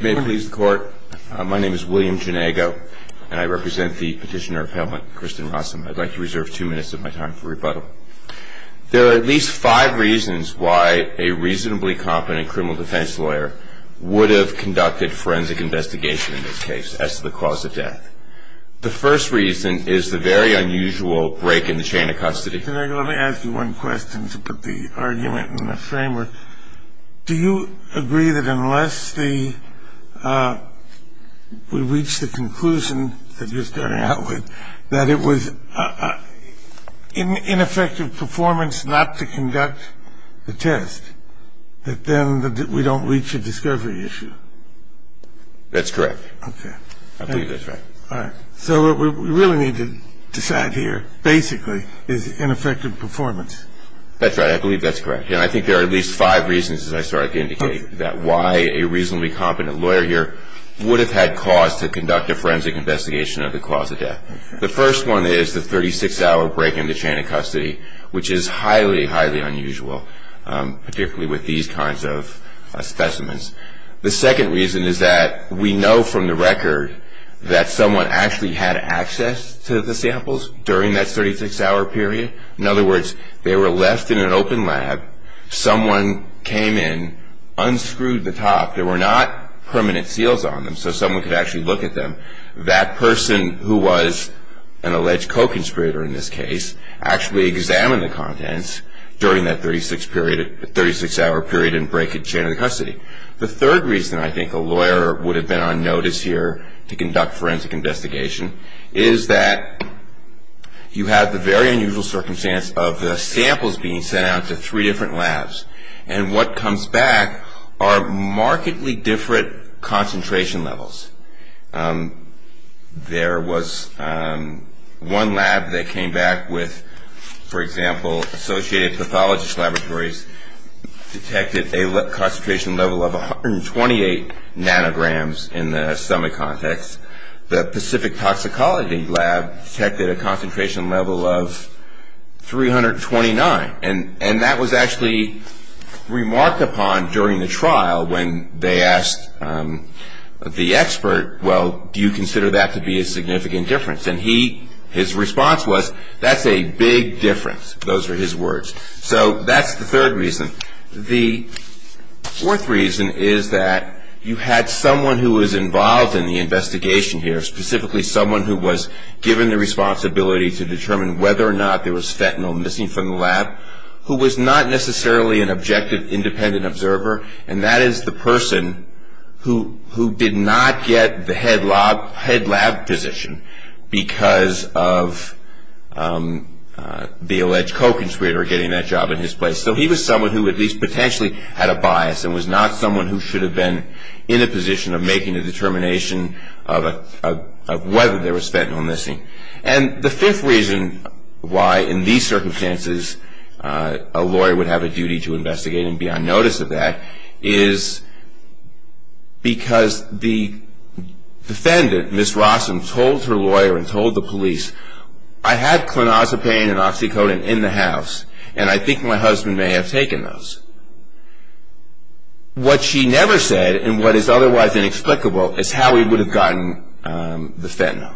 May it please the court, my name is William Janago and I represent the petitioner appellant Kristen Rossum. I'd like to reserve two minutes of my time for rebuttal. There are at least five reasons why a reasonably competent criminal defense lawyer would have conducted forensic investigation in this case as to the cause of death. The first reason is the very unusual break in the chain of custody. Let me ask you one question to put the argument in the framework. Do you agree that unless we reach the conclusion that you're starting out with, that it was ineffective performance not to conduct the test, that then we don't reach a discovery issue? That's correct. Okay. I believe that's right. So what we really need to decide here basically is ineffective performance. That's right. I believe that's correct. And I think there are at least five reasons, as I started to indicate, that why a reasonably competent lawyer here would have had cause to conduct a forensic investigation of the cause of death. The first one is the 36-hour break in the chain of custody, which is highly, highly unusual, particularly with these kinds of specimens. The second reason is that we know from the record that someone actually had access to the samples during that 36-hour period. In other words, they were left in an open lab. Someone came in, unscrewed the top. There were not permanent seals on them, so someone could actually look at them. That person, who was an alleged co-conspirator in this case, actually examined the contents during that 36-hour period and break in chain of custody. The third reason I think a lawyer would have been on notice here to conduct forensic investigation is that you have the very unusual circumstance of the samples being sent out to three different labs, and what comes back are markedly different concentration levels. There was one lab that came back with, for example, Associated Pathologist Laboratories, detected a concentration level of 128 nanograms in the stomach context. The Pacific Toxicology Lab detected a concentration level of 329, and that was actually remarked upon during the trial when they asked the expert, well, do you consider that to be a significant difference? And his response was, that's a big difference. Those were his words. So that's the third reason. The fourth reason is that you had someone who was involved in the investigation here, specifically someone who was given the responsibility to determine whether or not there was fentanyl missing from the lab, who was not necessarily an objective independent observer, and that is the person who did not get the head lab position because of the alleged co-conspirator getting that job in his place. So he was someone who at least potentially had a bias and was not someone who should have been in a position of making a determination of whether there was fentanyl missing. And the fifth reason why in these circumstances a lawyer would have a duty to investigate and be on notice of that is because the defendant, Ms. Rossum, told her lawyer and told the police, I had clonazepam and oxycodone in the house, and I think my husband may have taken those. What she never said and what is otherwise inexplicable is how he would have gotten the fentanyl.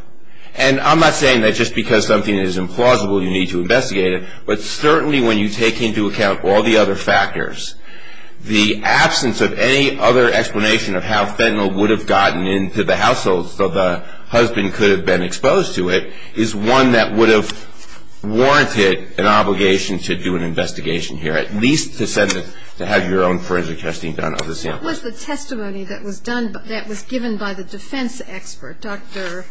And I'm not saying that just because something is implausible you need to investigate it, but certainly when you take into account all the other factors, the absence of any other explanation of how fentanyl would have gotten into the household so the husband could have been exposed to it is one that would have warranted an obligation to do an investigation here, at least to have your own forensic testing done of the sample. What was the testimony that was given by the defense expert, Dr.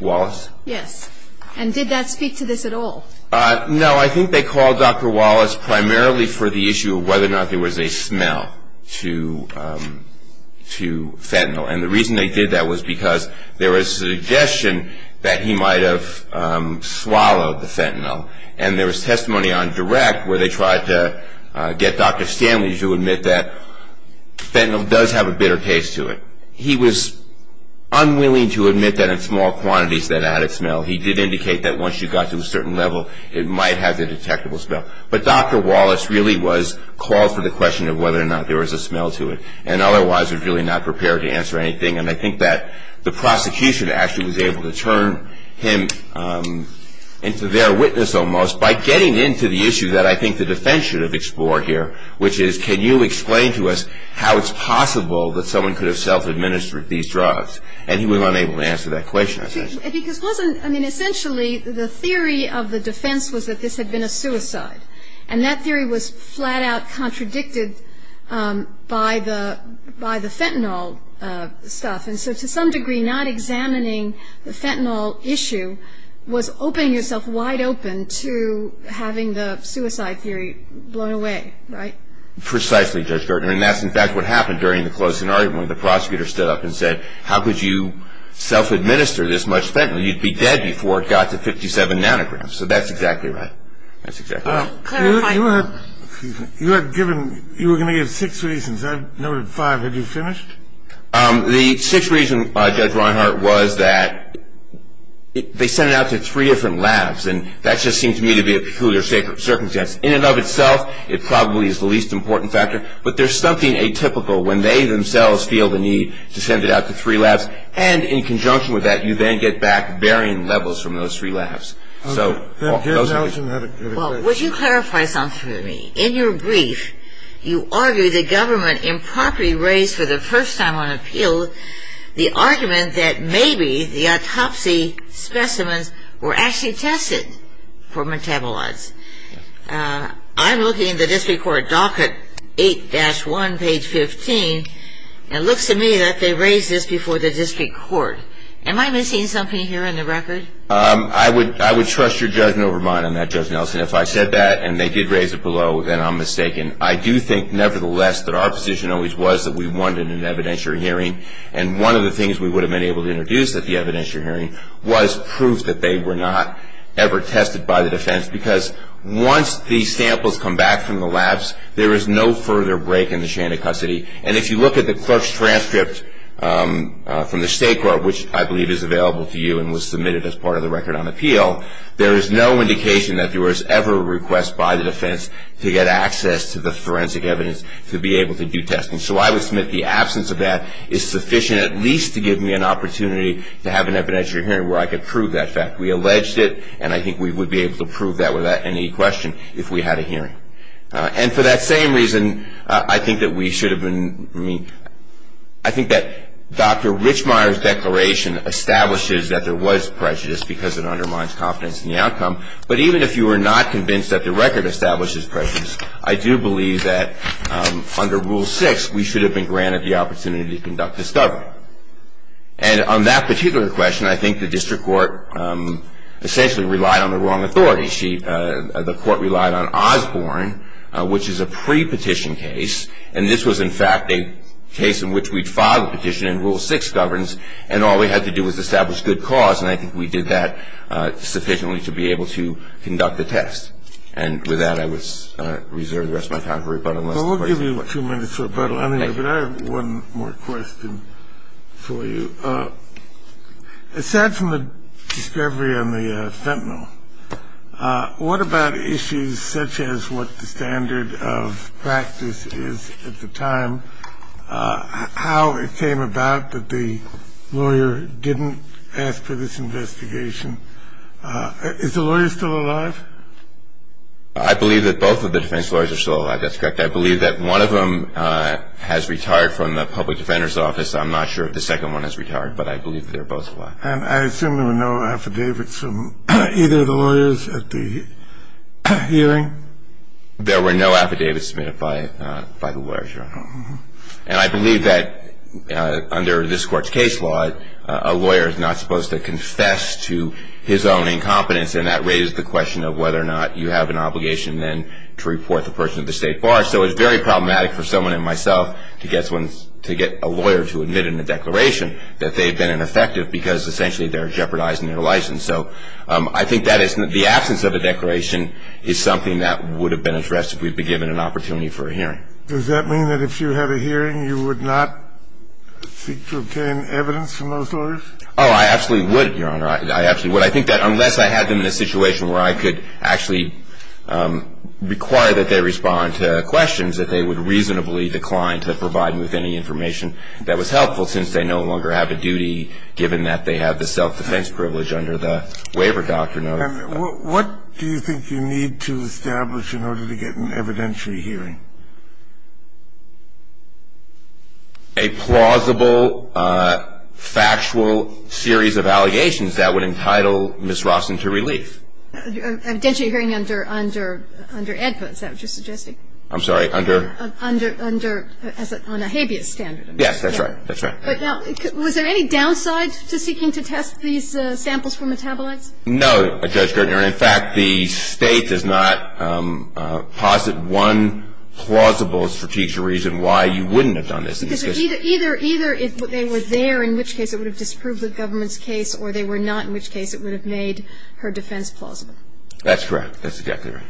Wallace? Yes. And did that speak to this at all? No. I think they called Dr. Wallace primarily for the issue of whether or not there was a smell to fentanyl. And the reason they did that was because there was a suggestion that he might have swallowed the fentanyl. And there was testimony on direct where they tried to get Dr. Stanley to admit that fentanyl does have a bitter taste to it. He was unwilling to admit that in small quantities that it had a smell. He did indicate that once you got to a certain level it might have a detectable smell. But Dr. Wallace really was called for the question of whether or not there was a smell to it and otherwise was really not prepared to answer anything. And I think that the prosecution actually was able to turn him into their witness almost by getting into the issue that I think the defense should have explored here, which is can you explain to us how it's possible that someone could have self-administered these drugs. And he was unable to answer that question, essentially. Because wasn't, I mean, essentially the theory of the defense was that this had been a suicide. And that theory was flat-out contradicted by the fentanyl stuff. And so to some degree not examining the fentanyl issue was opening yourself wide open to having the suicide theory blown away. Right? Precisely, Judge Gertner. And that's in fact what happened during the closing argument when the prosecutor stood up and said, how could you self-administer this much fentanyl? You'd be dead before it got to 57 nanograms. So that's exactly right. That's exactly right. Clarifying. You had given, you were going to give six reasons. I've noted five. Had you finished? The sixth reason, Judge Reinhart, was that they sent it out to three different labs. And that just seemed to me to be a peculiar circumstance. In and of itself, it probably is the least important factor. But there's something atypical when they themselves feel the need to send it out to three labs. And in conjunction with that, you then get back varying levels from those three labs. Well, would you clarify something for me? In your brief, you argue the government improperly raised for the first time on appeal the argument that maybe the autopsy specimens were actually tested for metabolites. I'm looking at the district court docket 8-1, page 15, and it looks to me that they raised this before the district court. Am I missing something here in the record? I would trust your judgment over mine on that, Judge Nelson. If I said that and they did raise it below, then I'm mistaken. I do think, nevertheless, that our position always was that we wanted an evidentiary hearing. And one of the things we would have been able to introduce at the evidentiary hearing was proof that they were not ever tested by the defense. Because once the samples come back from the labs, there is no further break in the chain of custody. And if you look at the clerk's transcript from the state court, which I believe is available to you and was submitted as part of the record on appeal, there is no indication that there was ever a request by the defense to get access to the forensic evidence to be able to do testing. So I would submit the absence of that is sufficient at least to give me an opportunity to have an evidentiary hearing where I could prove that fact. We alleged it, and I think we would be able to prove that without any question if we had a hearing. And for that same reason, I think that we should have been, I mean, I think that Dr. Richmire's declaration establishes that there was prejudice because it undermines confidence in the outcome. But even if you were not convinced that the record establishes prejudice, I do believe that under Rule 6, we should have been granted the opportunity to conduct discovery. And on that particular question, I think the district court essentially relied on the wrong authority. The court relied on Osborne, which is a pre-petition case. And this was, in fact, a case in which we'd filed a petition in Rule 6 governance, and all we had to do was establish good cause, and I think we did that sufficiently to be able to conduct the test. And with that, I would reserve the rest of my time for rebuttal unless the President would like to. Well, we'll give you two minutes for rebuttal. I have one more question for you. Aside from the discovery on the fentanyl, what about issues such as what the standard of practice is at the time, how it came about that the lawyer didn't ask for this investigation? Is the lawyer still alive? I believe that both of the defense lawyers are still alive. That's correct. I'm not sure if the second one has retired, but I believe that they're both alive. And I assume there were no affidavits from either of the lawyers at the hearing? There were no affidavits submitted by the lawyers, Your Honor. And I believe that under this Court's case law, a lawyer is not supposed to confess to his own incompetence, and that raises the question of whether or not you have an obligation then to report the person to the State Bar. So it's very problematic for someone like myself to get a lawyer to admit in a declaration that they've been ineffective because essentially they're jeopardizing their license. So I think the absence of a declaration is something that would have been addressed if we'd been given an opportunity for a hearing. Does that mean that if you had a hearing, you would not seek to obtain evidence from those lawyers? Oh, I absolutely would, Your Honor. I absolutely would. I think that unless I had them in a situation where I could actually require that they respond to questions, that they would reasonably decline to provide me with any information that was helpful since they no longer have a duty, given that they have the self-defense privilege under the waiver doctrine. And what do you think you need to establish in order to get an evidentiary hearing? A plausible, factual series of allegations that would entitle Ms. Rossen to relief. An evidentiary hearing under EDPA, is that what you're suggesting? I'm sorry, under? Under, as on a habeas standard. Yes, that's right. That's right. But now, was there any downside to seeking to test these samples for metabolites? No, Judge Gertner. In fact, the State does not posit one plausible strategic reason why you wouldn't have done this in the discussion. Because either they were there, in which case it would have disproved the government's case, or they were not, in which case it would have made her defense plausible. That's correct. That's exactly right.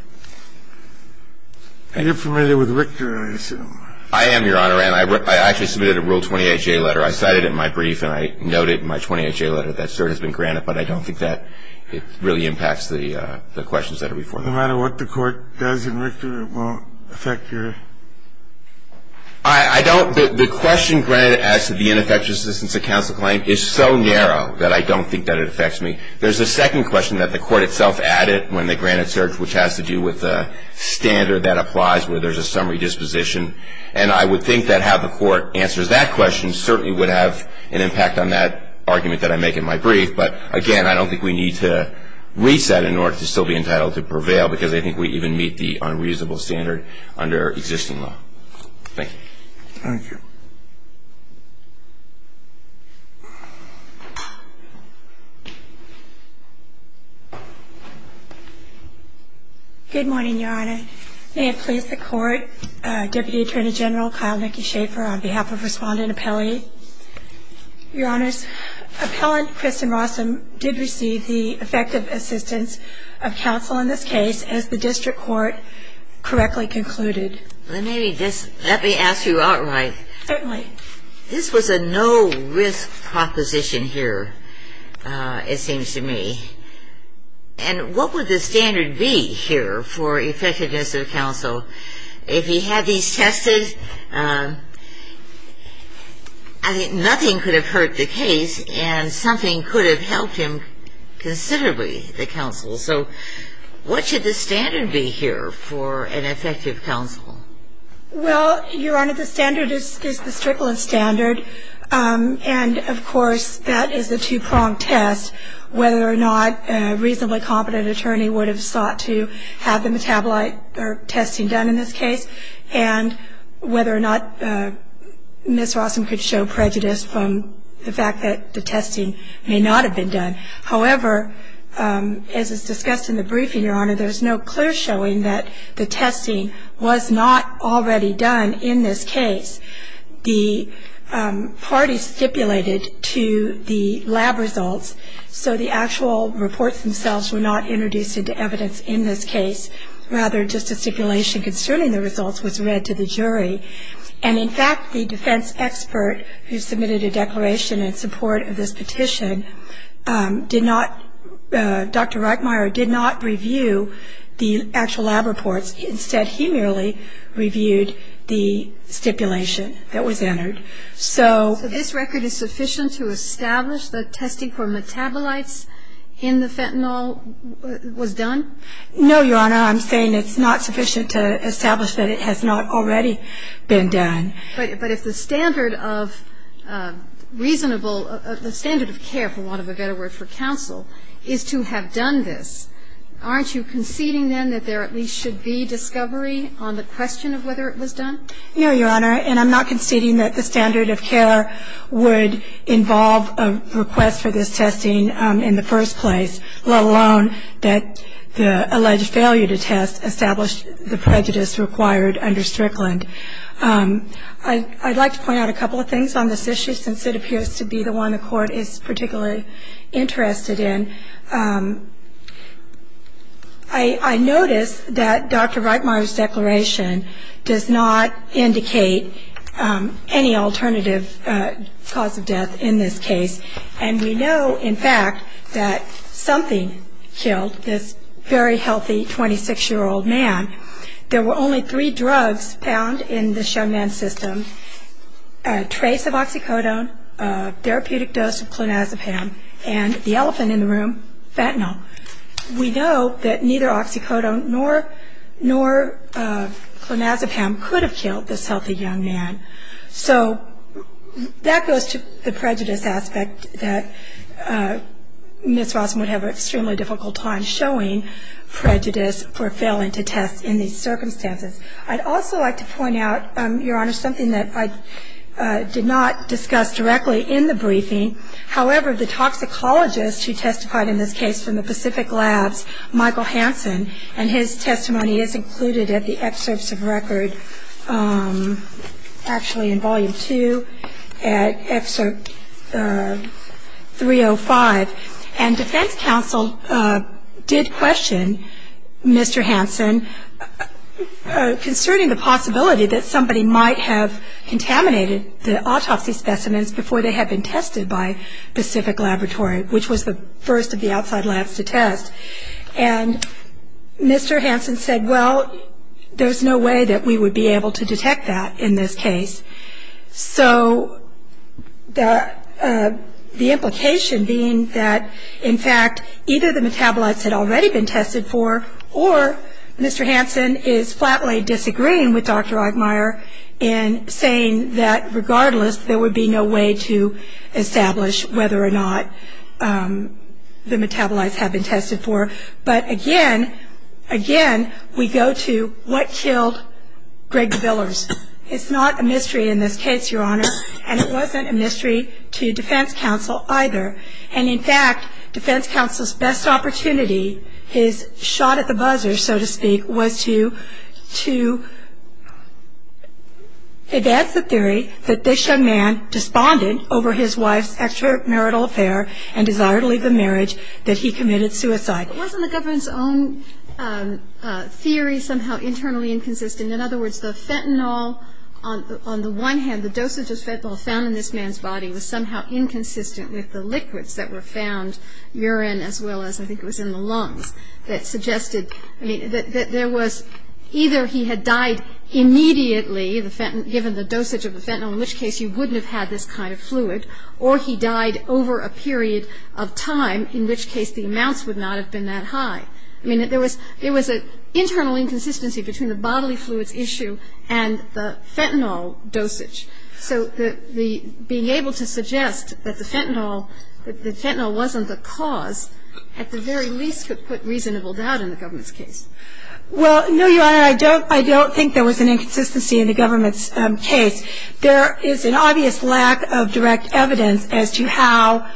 And you're familiar with Richter, I assume. I am, Your Honor. And I actually submitted a Rule 28J letter. I cited it in my brief and I note it in my 28J letter. But I don't think that it really impacts the questions that are before me. No matter what the Court does in Richter, it won't affect your? I don't. The question granted as to the ineffectuousness of counsel claim is so narrow that I don't think that it affects me. There's a second question that the Court itself added when they granted search, which has to do with the standard that applies where there's a summary disposition. And I would think that how the Court answers that question certainly would have an impact on that argument that I make in my brief. But, again, I don't think we need to reset in order to still be entitled to prevail, because I think we even meet the unreasonable standard under existing law. Thank you. Thank you. Good morning, Your Honor. May it please the Court, Deputy Attorney General Kyle McKee Schaefer, on behalf of Respondent Apelli. Your Honors, Appellant Kristen Rossum did receive the effective assistance of counsel in this case, as the district court correctly concluded. Let me ask you outright. Certainly. This was a no-risk proposition here, it seems to me. And what would the standard be here for effectiveness of counsel? If he had these tested, I think nothing could have hurt the case and something could have helped him considerably, the counsel. So what should the standard be here for an effective counsel? Well, Your Honor, the standard is the Strickland standard. And, of course, that is a two-pronged test, whether or not a reasonably competent attorney would have sought to have the metabolite or testing done in this case, and whether or not Ms. Rossum could show prejudice from the fact that the testing may not have been done. However, as is discussed in the briefing, Your Honor, there is no clear showing that the testing was not already done in this case. The parties stipulated to the lab results, so the actual reports themselves were not introduced into evidence in this case. Rather, just a stipulation concerning the results was read to the jury. And, in fact, the defense expert who submitted a declaration in support of this petition did not, Dr. Reichmeier did not review the actual lab reports. Instead, he merely reviewed the stipulation that was entered. So this record is sufficient to establish that testing for metabolites in the fentanyl was done? No, Your Honor. I'm saying it's not sufficient to establish that it has not already been done. But if the standard of reasonable, the standard of care, for want of a better word, for counsel is to have done this, aren't you conceding then that there at least should be discovery on the question of whether it was done? No, Your Honor. And I'm not conceding that the standard of care would involve a request for this testing in the first place, let alone that the alleged failure to test established the prejudice required under Strickland. I'd like to point out a couple of things on this issue, since it appears to be the one the Court is particularly interested in. I notice that Dr. Reichmeier's declaration does not indicate any alternative cause of death in this case. And we know, in fact, that something killed this very healthy 26-year-old man. There were only three drugs found in the Chamin system, a trace of oxycodone, a therapeutic dose of clonazepam, and the elephant in the room, fentanyl. We know that neither oxycodone nor clonazepam could have killed this healthy young man. So that goes to the prejudice aspect that Ms. Rossman would have an extremely difficult time showing, prejudice for failing to test in these circumstances. I'd also like to point out, Your Honor, something that I did not discuss directly in the briefing. However, the toxicologist who testified in this case from the Pacific Labs, Michael Hansen, and his testimony is included at the excerpts of record, actually in Volume 2, at Excerpt 305. And defense counsel did question Mr. Hansen concerning the possibility that somebody might have contaminated the autopsy specimens before they had been tested by Pacific Laboratory, which was the first of the outside labs to test. And Mr. Hansen said, well, there's no way that we would be able to detect that in this case. So the implication being that, in fact, either the metabolites had already been tested for or Mr. Hansen is flatly disagreeing with Dr. Ogmeier in saying that, regardless, there would be no way to establish whether or not the metabolites had been tested for. But again, again, we go to what killed Greg Billers. It's not a mystery in this case, Your Honor, and it wasn't a mystery to defense counsel either. And, in fact, defense counsel's best opportunity, his shot at the buzzer, so to speak, was to advance the theory that this young man despondent over his wife's extramarital affair and desire to leave the marriage, that he committed suicide. But wasn't the government's own theory somehow internally inconsistent? In other words, the fentanyl on the one hand, and the dosage of fentanyl found in this man's body was somehow inconsistent with the liquids that were found, urine as well as I think it was in the lungs, that suggested that either he had died immediately, given the dosage of the fentanyl, in which case you wouldn't have had this kind of fluid, or he died over a period of time in which case the amounts would not have been that high. I mean, there was an internal inconsistency between the bodily fluids issue and the fentanyl dosage. So being able to suggest that the fentanyl wasn't the cause, at the very least could put reasonable doubt in the government's case. Well, no, Your Honor, I don't think there was an inconsistency in the government's case. There is an obvious lack of direct evidence as to how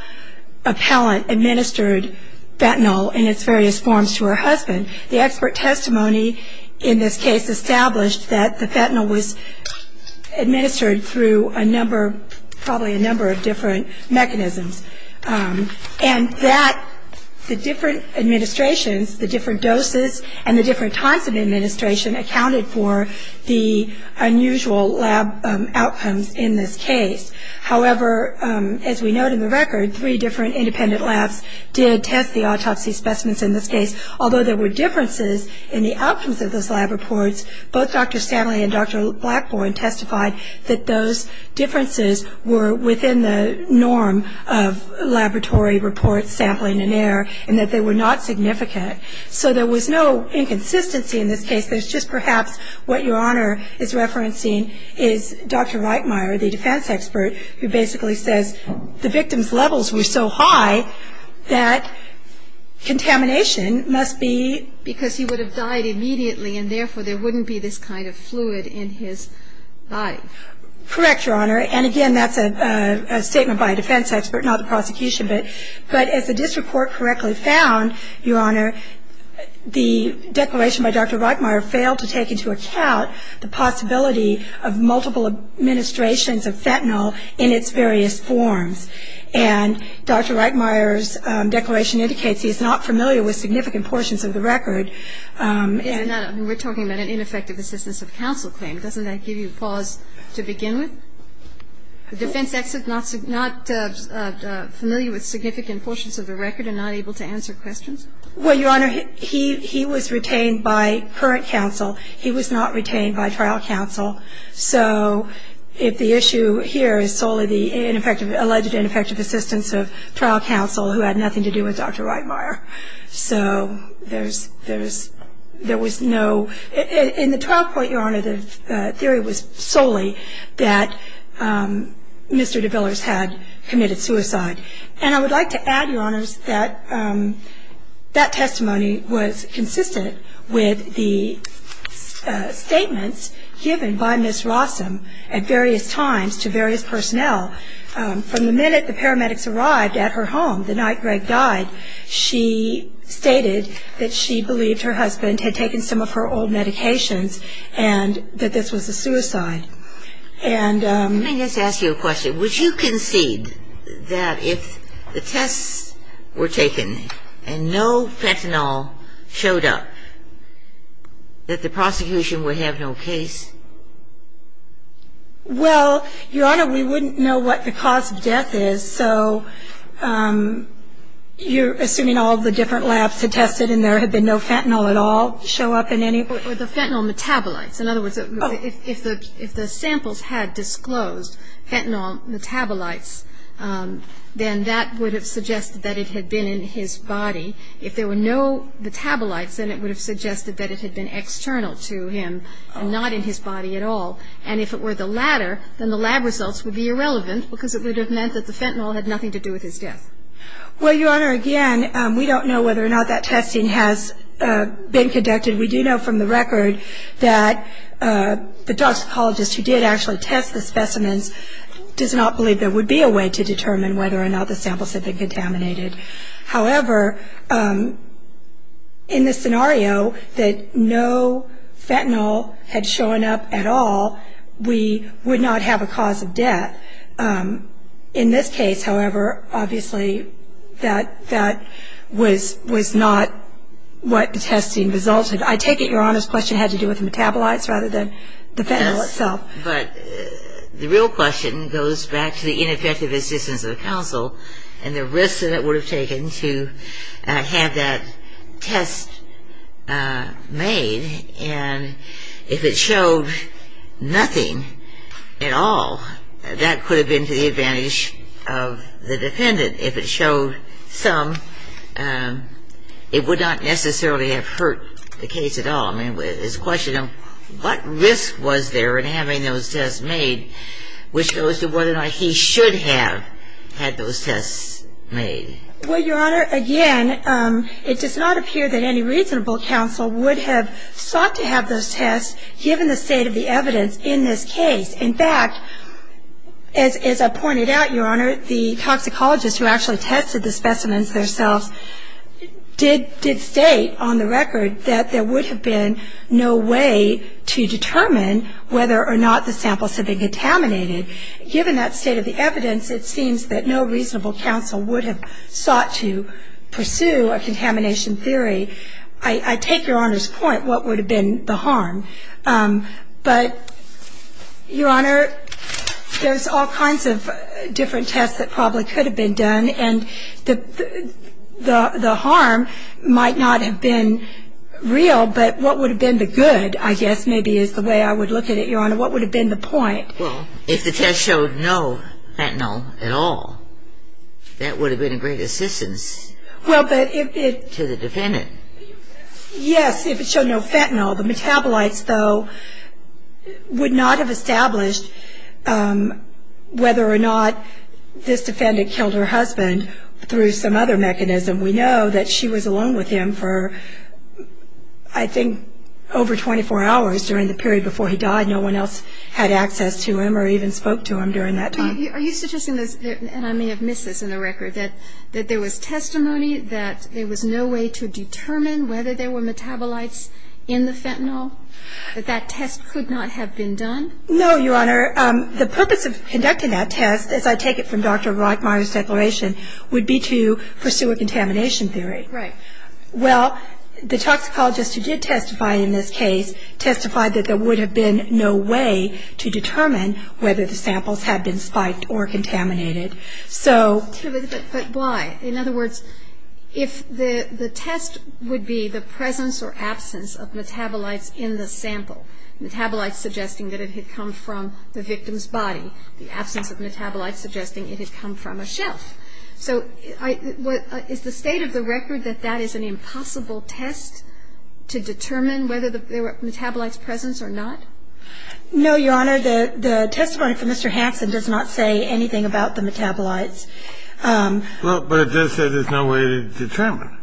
appellant administered fentanyl in its various forms to her husband. The expert testimony in this case established that the fentanyl was administered through a number, probably a number of different mechanisms, and that the different administrations, the different doses and the different types of administration accounted for the unusual lab outcomes in this case. However, as we note in the record, three different independent labs did test the autopsy specimens in this case. Although there were differences in the outcomes of those lab reports, both Dr. Stanley and Dr. Blackburn testified that those differences were within the norm of laboratory reports, sampling and error, and that they were not significant. So there was no inconsistency in this case. There's just perhaps what Your Honor is referencing is Dr. Reichmeier, the defense expert, who basically says the victim's levels were so high that contamination must be because he would have died immediately and therefore there wouldn't be this kind of fluid in his body. Correct, Your Honor. And again, that's a statement by a defense expert, not the prosecution. But as the district court correctly found, Your Honor, the declaration by Dr. Reichmeier failed to take into account the possibility of multiple administrations of fentanyl in its various forms. And Dr. Reichmeier's declaration indicates he is not familiar with significant portions of the record. We're talking about an ineffective assistance of counsel claim. Doesn't that give you pause to begin with? The defense expert is not familiar with significant portions of the record and not able to answer questions? Well, Your Honor, he was retained by current counsel. He was not retained by trial counsel. So if the issue here is solely the alleged ineffective assistance of trial counsel who had nothing to do with Dr. Reichmeier. So there was no – in the trial court, Your Honor, the theory was solely that Mr. DeVillers had committed suicide. And I would like to add, Your Honors, that that testimony was consistent with the statements given by Ms. Rossum at various times to various personnel. From the minute the paramedics arrived at her home the night Greg died, she stated that she believed her husband had taken some of her old medications and that this was a suicide. Let me just ask you a question. Would you concede that if the tests were taken and no fentanyl showed up, that the prosecution would have no case? Well, Your Honor, we wouldn't know what the cause of death is. So you're assuming all of the different labs had tested and there had been no fentanyl at all show up in any? The fentanyl metabolites. In other words, if the samples had disclosed fentanyl metabolites, then that would have suggested that it had been in his body. If there were no metabolites, then it would have suggested that it had been external to him and not in his body at all. And if it were the latter, then the lab results would be irrelevant because it would have meant that the fentanyl had nothing to do with his death. Well, Your Honor, again, we don't know whether or not that testing has been conducted. We do know from the record that the toxicologist who did actually test the specimens does not believe there would be a way to determine whether or not the samples had been contaminated. However, in the scenario that no fentanyl had shown up at all, we would not have a cause of death. In this case, however, obviously that was not what the testing resulted. I take it Your Honor's question had to do with the metabolites rather than the fentanyl itself. Yes, but the real question goes back to the ineffective assistance of the council and the risks that it would have taken to have that test made. And if it showed nothing at all, that could have been to the advantage of the defendant. If it showed some, it would not necessarily have hurt the case at all. I mean, it's a question of what risk was there in having those tests made, which goes to whether or not he should have had those tests made. Well, Your Honor, again, it does not appear that any reasonable council would have sought to have those tests given the state of the evidence in this case. In fact, as I pointed out, Your Honor, the toxicologist who actually tested the specimens themselves did state on the record that there would have been no way to determine whether or not the samples had been contaminated. Given that state of the evidence, it seems that no reasonable council would have sought to pursue a contamination theory. I take Your Honor's point, what would have been the harm. But, Your Honor, there's all kinds of different tests that probably could have been done, and the harm might not have been real, but what would have been the good, I guess, maybe is the way I would look at it, Your Honor. What would have been the point? Well, if the test showed no fentanyl at all, that would have been a great assistance to the defendant. Yes, if it showed no fentanyl. The metabolites, though, would not have established whether or not this defendant killed her husband through some other mechanism. We know that she was alone with him for, I think, over 24 hours during the period before he died. No one else had access to him or even spoke to him during that time. Are you suggesting this, and I may have missed this in the record, that there was testimony that there was no way to determine whether there were metabolites in the fentanyl, that that test could not have been done? No, Your Honor. The purpose of conducting that test, as I take it from Dr. Rockmeier's declaration, would be to pursue a contamination theory. Right. Well, the toxicologist who did testify in this case testified that there would have been no way to determine whether the samples had been spiked or contaminated. But why? In other words, if the test would be the presence or absence of metabolites in the sample, metabolites suggesting that it had come from the victim's body, the absence of metabolites suggesting it had come from a shelf. So is the state of the record that that is an impossible test to determine whether there were metabolites present or not? No, Your Honor. The testimony from Mr. Hansen does not say anything about the metabolites. Well, but it does say there's no way to determine.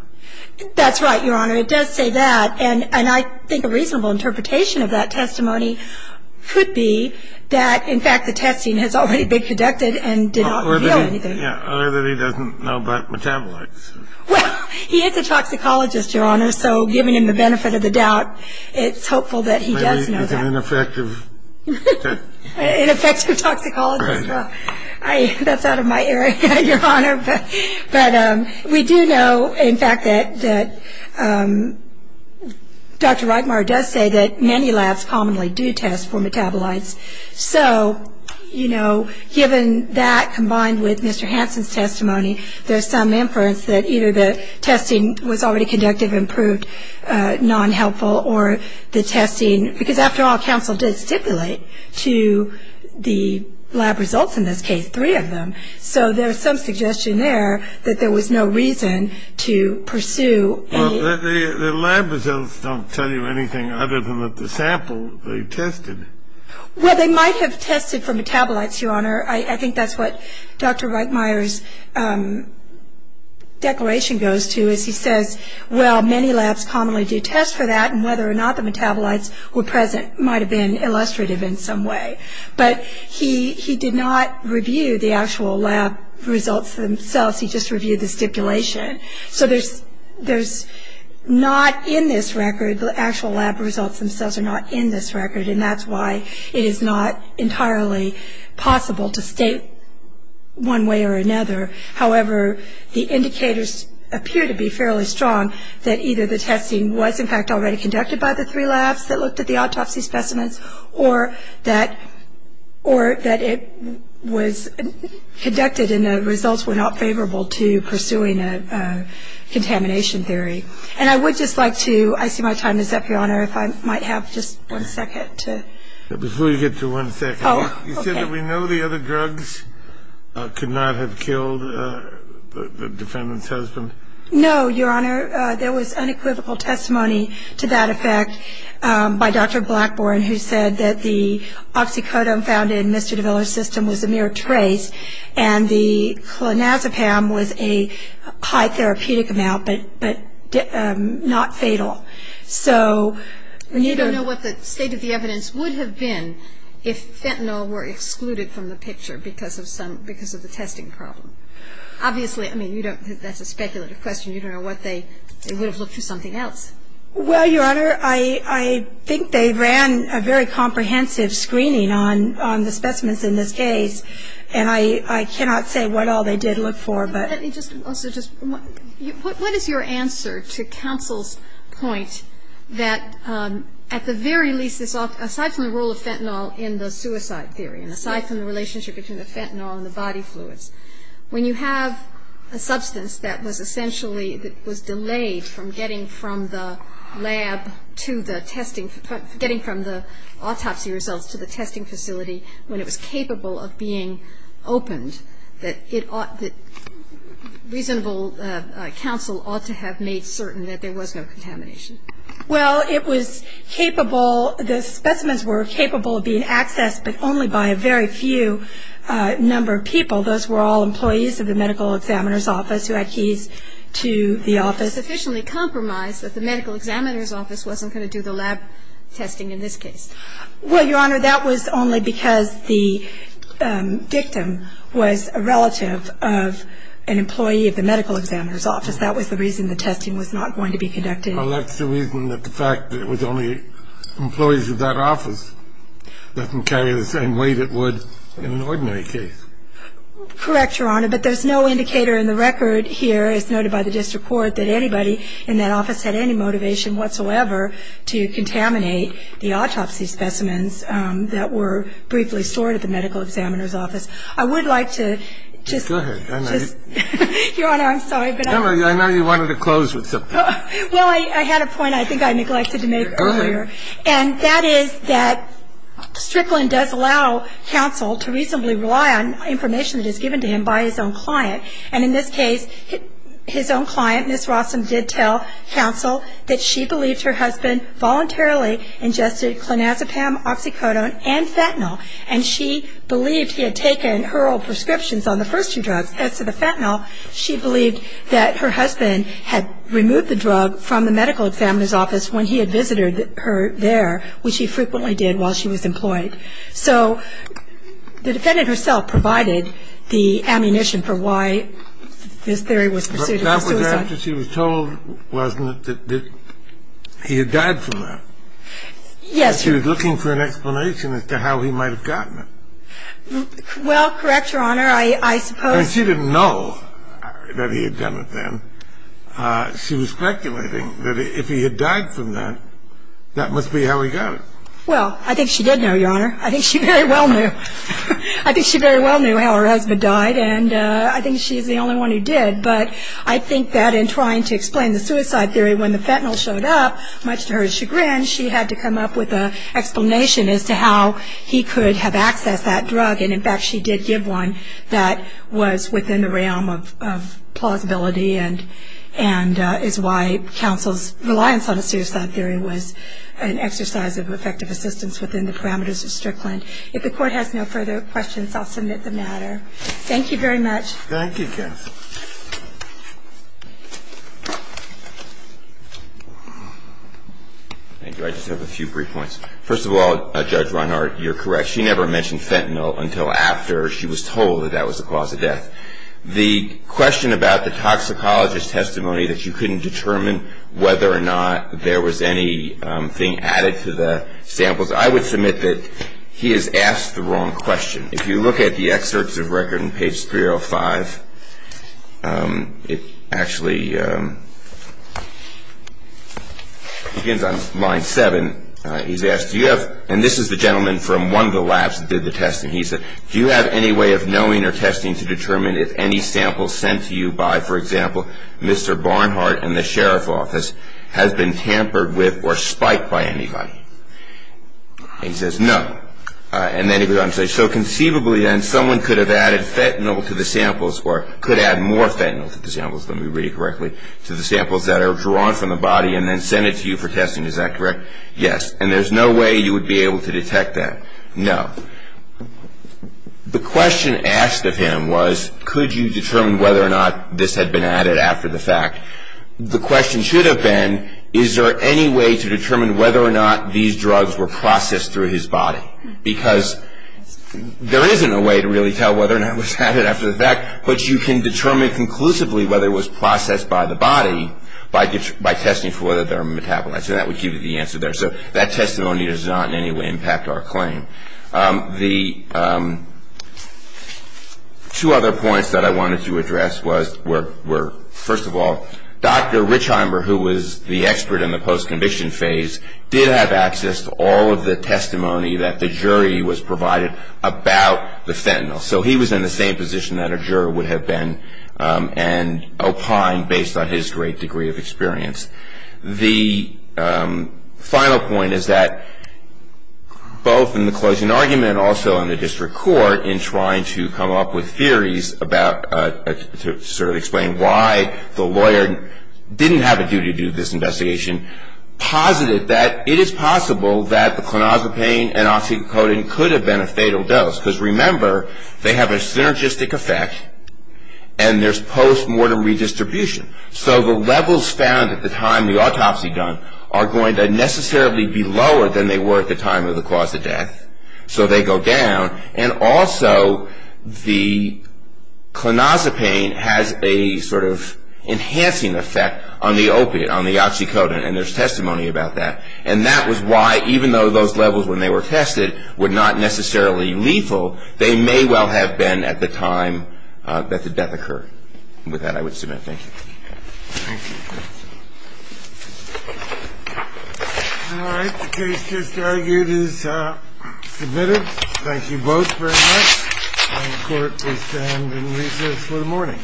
That's right, Your Honor. It does say that. And I think a reasonable interpretation of that testimony could be that, in fact, the testing has already been conducted and did not reveal anything. Yeah, other than he doesn't know about metabolites. Well, he is a toxicologist, Your Honor, so given him the benefit of the doubt, it's hopeful that he does know that. Maybe he's an ineffective test. An effective toxicologist, well, that's out of my area, Your Honor. But we do know, in fact, that Dr. Reitmar does say that many labs commonly do test for metabolites. So, you know, given that combined with Mr. Hansen's testimony, there's some inference that either the testing was already conducted and proved non-helpful or the testing – because, after all, counsel did stipulate to the lab results in this case, three of them. So there's some suggestion there that there was no reason to pursue a – Well, the lab results don't tell you anything other than that the sample they tested. Well, they might have tested for metabolites, Your Honor. I think that's what Dr. Reitmar's declaration goes to is he says, well, many labs commonly do test for that, and whether or not the metabolites were present might have been illustrative in some way. But he did not review the actual lab results themselves. He just reviewed the stipulation. So there's not in this record – the actual lab results themselves are not in this record, and that's why it is not entirely possible to state one way or another. However, the indicators appear to be fairly strong that either the testing was, in fact, already conducted by the three labs that looked at the autopsy specimens or that it was conducted and the results were not favorable to pursuing a contamination theory. And I would just like to – I see my time is up, Your Honor, if I might have just one second to – Before you get to one second, you said that we know the other drugs could not have killed the defendant's husband? No, Your Honor, there was unequivocal testimony to that effect by Dr. Blackburn, who said that the oxycodone found in Mr. de Villa's system was a mere trace, and the clonazepam was a high therapeutic amount, but not fatal. So – You don't know what the state of the evidence would have been if fentanyl were excluded from the picture because of the testing problem. Obviously, I mean, you don't – that's a speculative question. You don't know what they – they would have looked for something else. Well, Your Honor, I think they ran a very comprehensive screening on the specimens in this case, and I cannot say what all they did look for, but – Let me just also just – what is your answer to counsel's point that, at the very least, aside from the role of fentanyl in the suicide theory and aside from the relationship between the fentanyl and the body fluids, when you have a substance that was essentially – that was delayed from getting from the lab to the testing – that there was no contamination? Well, it was capable – the specimens were capable of being accessed, but only by a very few number of people. Those were all employees of the medical examiner's office who had keys to the office. It was sufficiently compromised that the medical examiner's office wasn't going to do the lab testing in this case. The victim was a relative of an employee of the medical examiner's office. That was the reason the testing was not going to be conducted. Well, that's the reason that the fact that it was only employees of that office doesn't carry the same weight it would in an ordinary case. Correct, Your Honor, but there's no indicator in the record here, as noted by the district court, that anybody in that office had any motivation whatsoever to contaminate the autopsy specimens that were briefly stored at the medical examiner's office. I would like to just – Go ahead. Your Honor, I'm sorry, but I – I know you wanted to close with something. Well, I had a point I think I neglected to make earlier, and that is that Strickland does allow counsel to reasonably rely on information that is given to him by his own client. And in this case, his own client, Ms. Rossum, did tell counsel that she believed her husband voluntarily ingested clonazepam, oxycodone, and fentanyl, and she believed he had taken her old prescriptions on the first two drugs. As to the fentanyl, she believed that her husband had removed the drug from the medical examiner's office when he had visited her there, which he frequently did while she was employed. So the defendant herself provided the ammunition for why this theory was pursued as a suicide. But that was after she was told, wasn't it, that he had died from that? Yes, Your Honor. She was looking for an explanation as to how he might have gotten it. Well, correct, Your Honor, I suppose – And she didn't know that he had done it then. She was speculating that if he had died from that, that must be how he got it. Well, I think she did know, Your Honor. I think she very well knew. I think she very well knew how her husband died, and I think she's the only one who did. But I think that in trying to explain the suicide theory when the fentanyl showed up, much to her chagrin, she had to come up with an explanation as to how he could have accessed that drug. And, in fact, she did give one that was within the realm of plausibility and is why counsel's reliance on a suicide theory was an exercise of effective assistance within the parameters of Strickland. If the Court has no further questions, I'll submit the matter. Thank you very much. Thank you, counsel. Thank you. I just have a few brief points. First of all, Judge Reinhart, you're correct. She never mentioned fentanyl until after she was told that that was the cause of death. The question about the toxicologist's testimony that you couldn't determine whether or not there was anything added to the samples, I would submit that he has asked the wrong question. If you look at the excerpts of record on page 305, it actually begins on line 7. He's asked, do you have, and this is the gentleman from one of the labs that did the testing, he said, do you have any way of knowing or testing to determine if any sample sent to you by, for example, Mr. Barnhart and the sheriff's office has been tampered with or spiked by anybody? And he says, no. And then he goes on to say, so conceivably then someone could have added fentanyl to the samples or could add more fentanyl to the samples, let me read it correctly, to the samples that are drawn from the body and then sent it to you for testing. Is that correct? Yes. And there's no way you would be able to detect that? No. The question asked of him was, could you determine whether or not this had been added after the fact? The question should have been, is there any way to determine whether or not these drugs were processed through his body? Because there isn't a way to really tell whether or not it was added after the fact, but you can determine conclusively whether it was processed by the body by testing for whether they're metabolized. And that would give you the answer there. So that testimony does not in any way impact our claim. The two other points that I wanted to address were, first of all, Dr. Richheimer, who was the expert in the post-conviction phase, did have access to all of the testimony that the jury was provided about the fentanyl. So he was in the same position that a juror would have been and opined based on his great degree of experience. The final point is that both in the closing argument and also in the district court, in trying to come up with theories about, to sort of explain why the lawyer didn't have a duty to do this investigation, posited that it is possible that the clonazepam and oxycodone could have been a fatal dose. Because remember, they have a synergistic effect, and there's post-mortem redistribution. So the levels found at the time the autopsy was done are going to necessarily be lower than they were at the time of the cause of death. So they go down. And also the clonazepam has a sort of enhancing effect on the opiate, on the oxycodone, and there's testimony about that. And that was why, even though those levels when they were tested were not necessarily lethal, they may well have been at the time that the death occurred. With that, I would submit. Thank you. Thank you. All right. The case just argued is submitted. Thank you both very much. And the Court will stand in recess for the morning.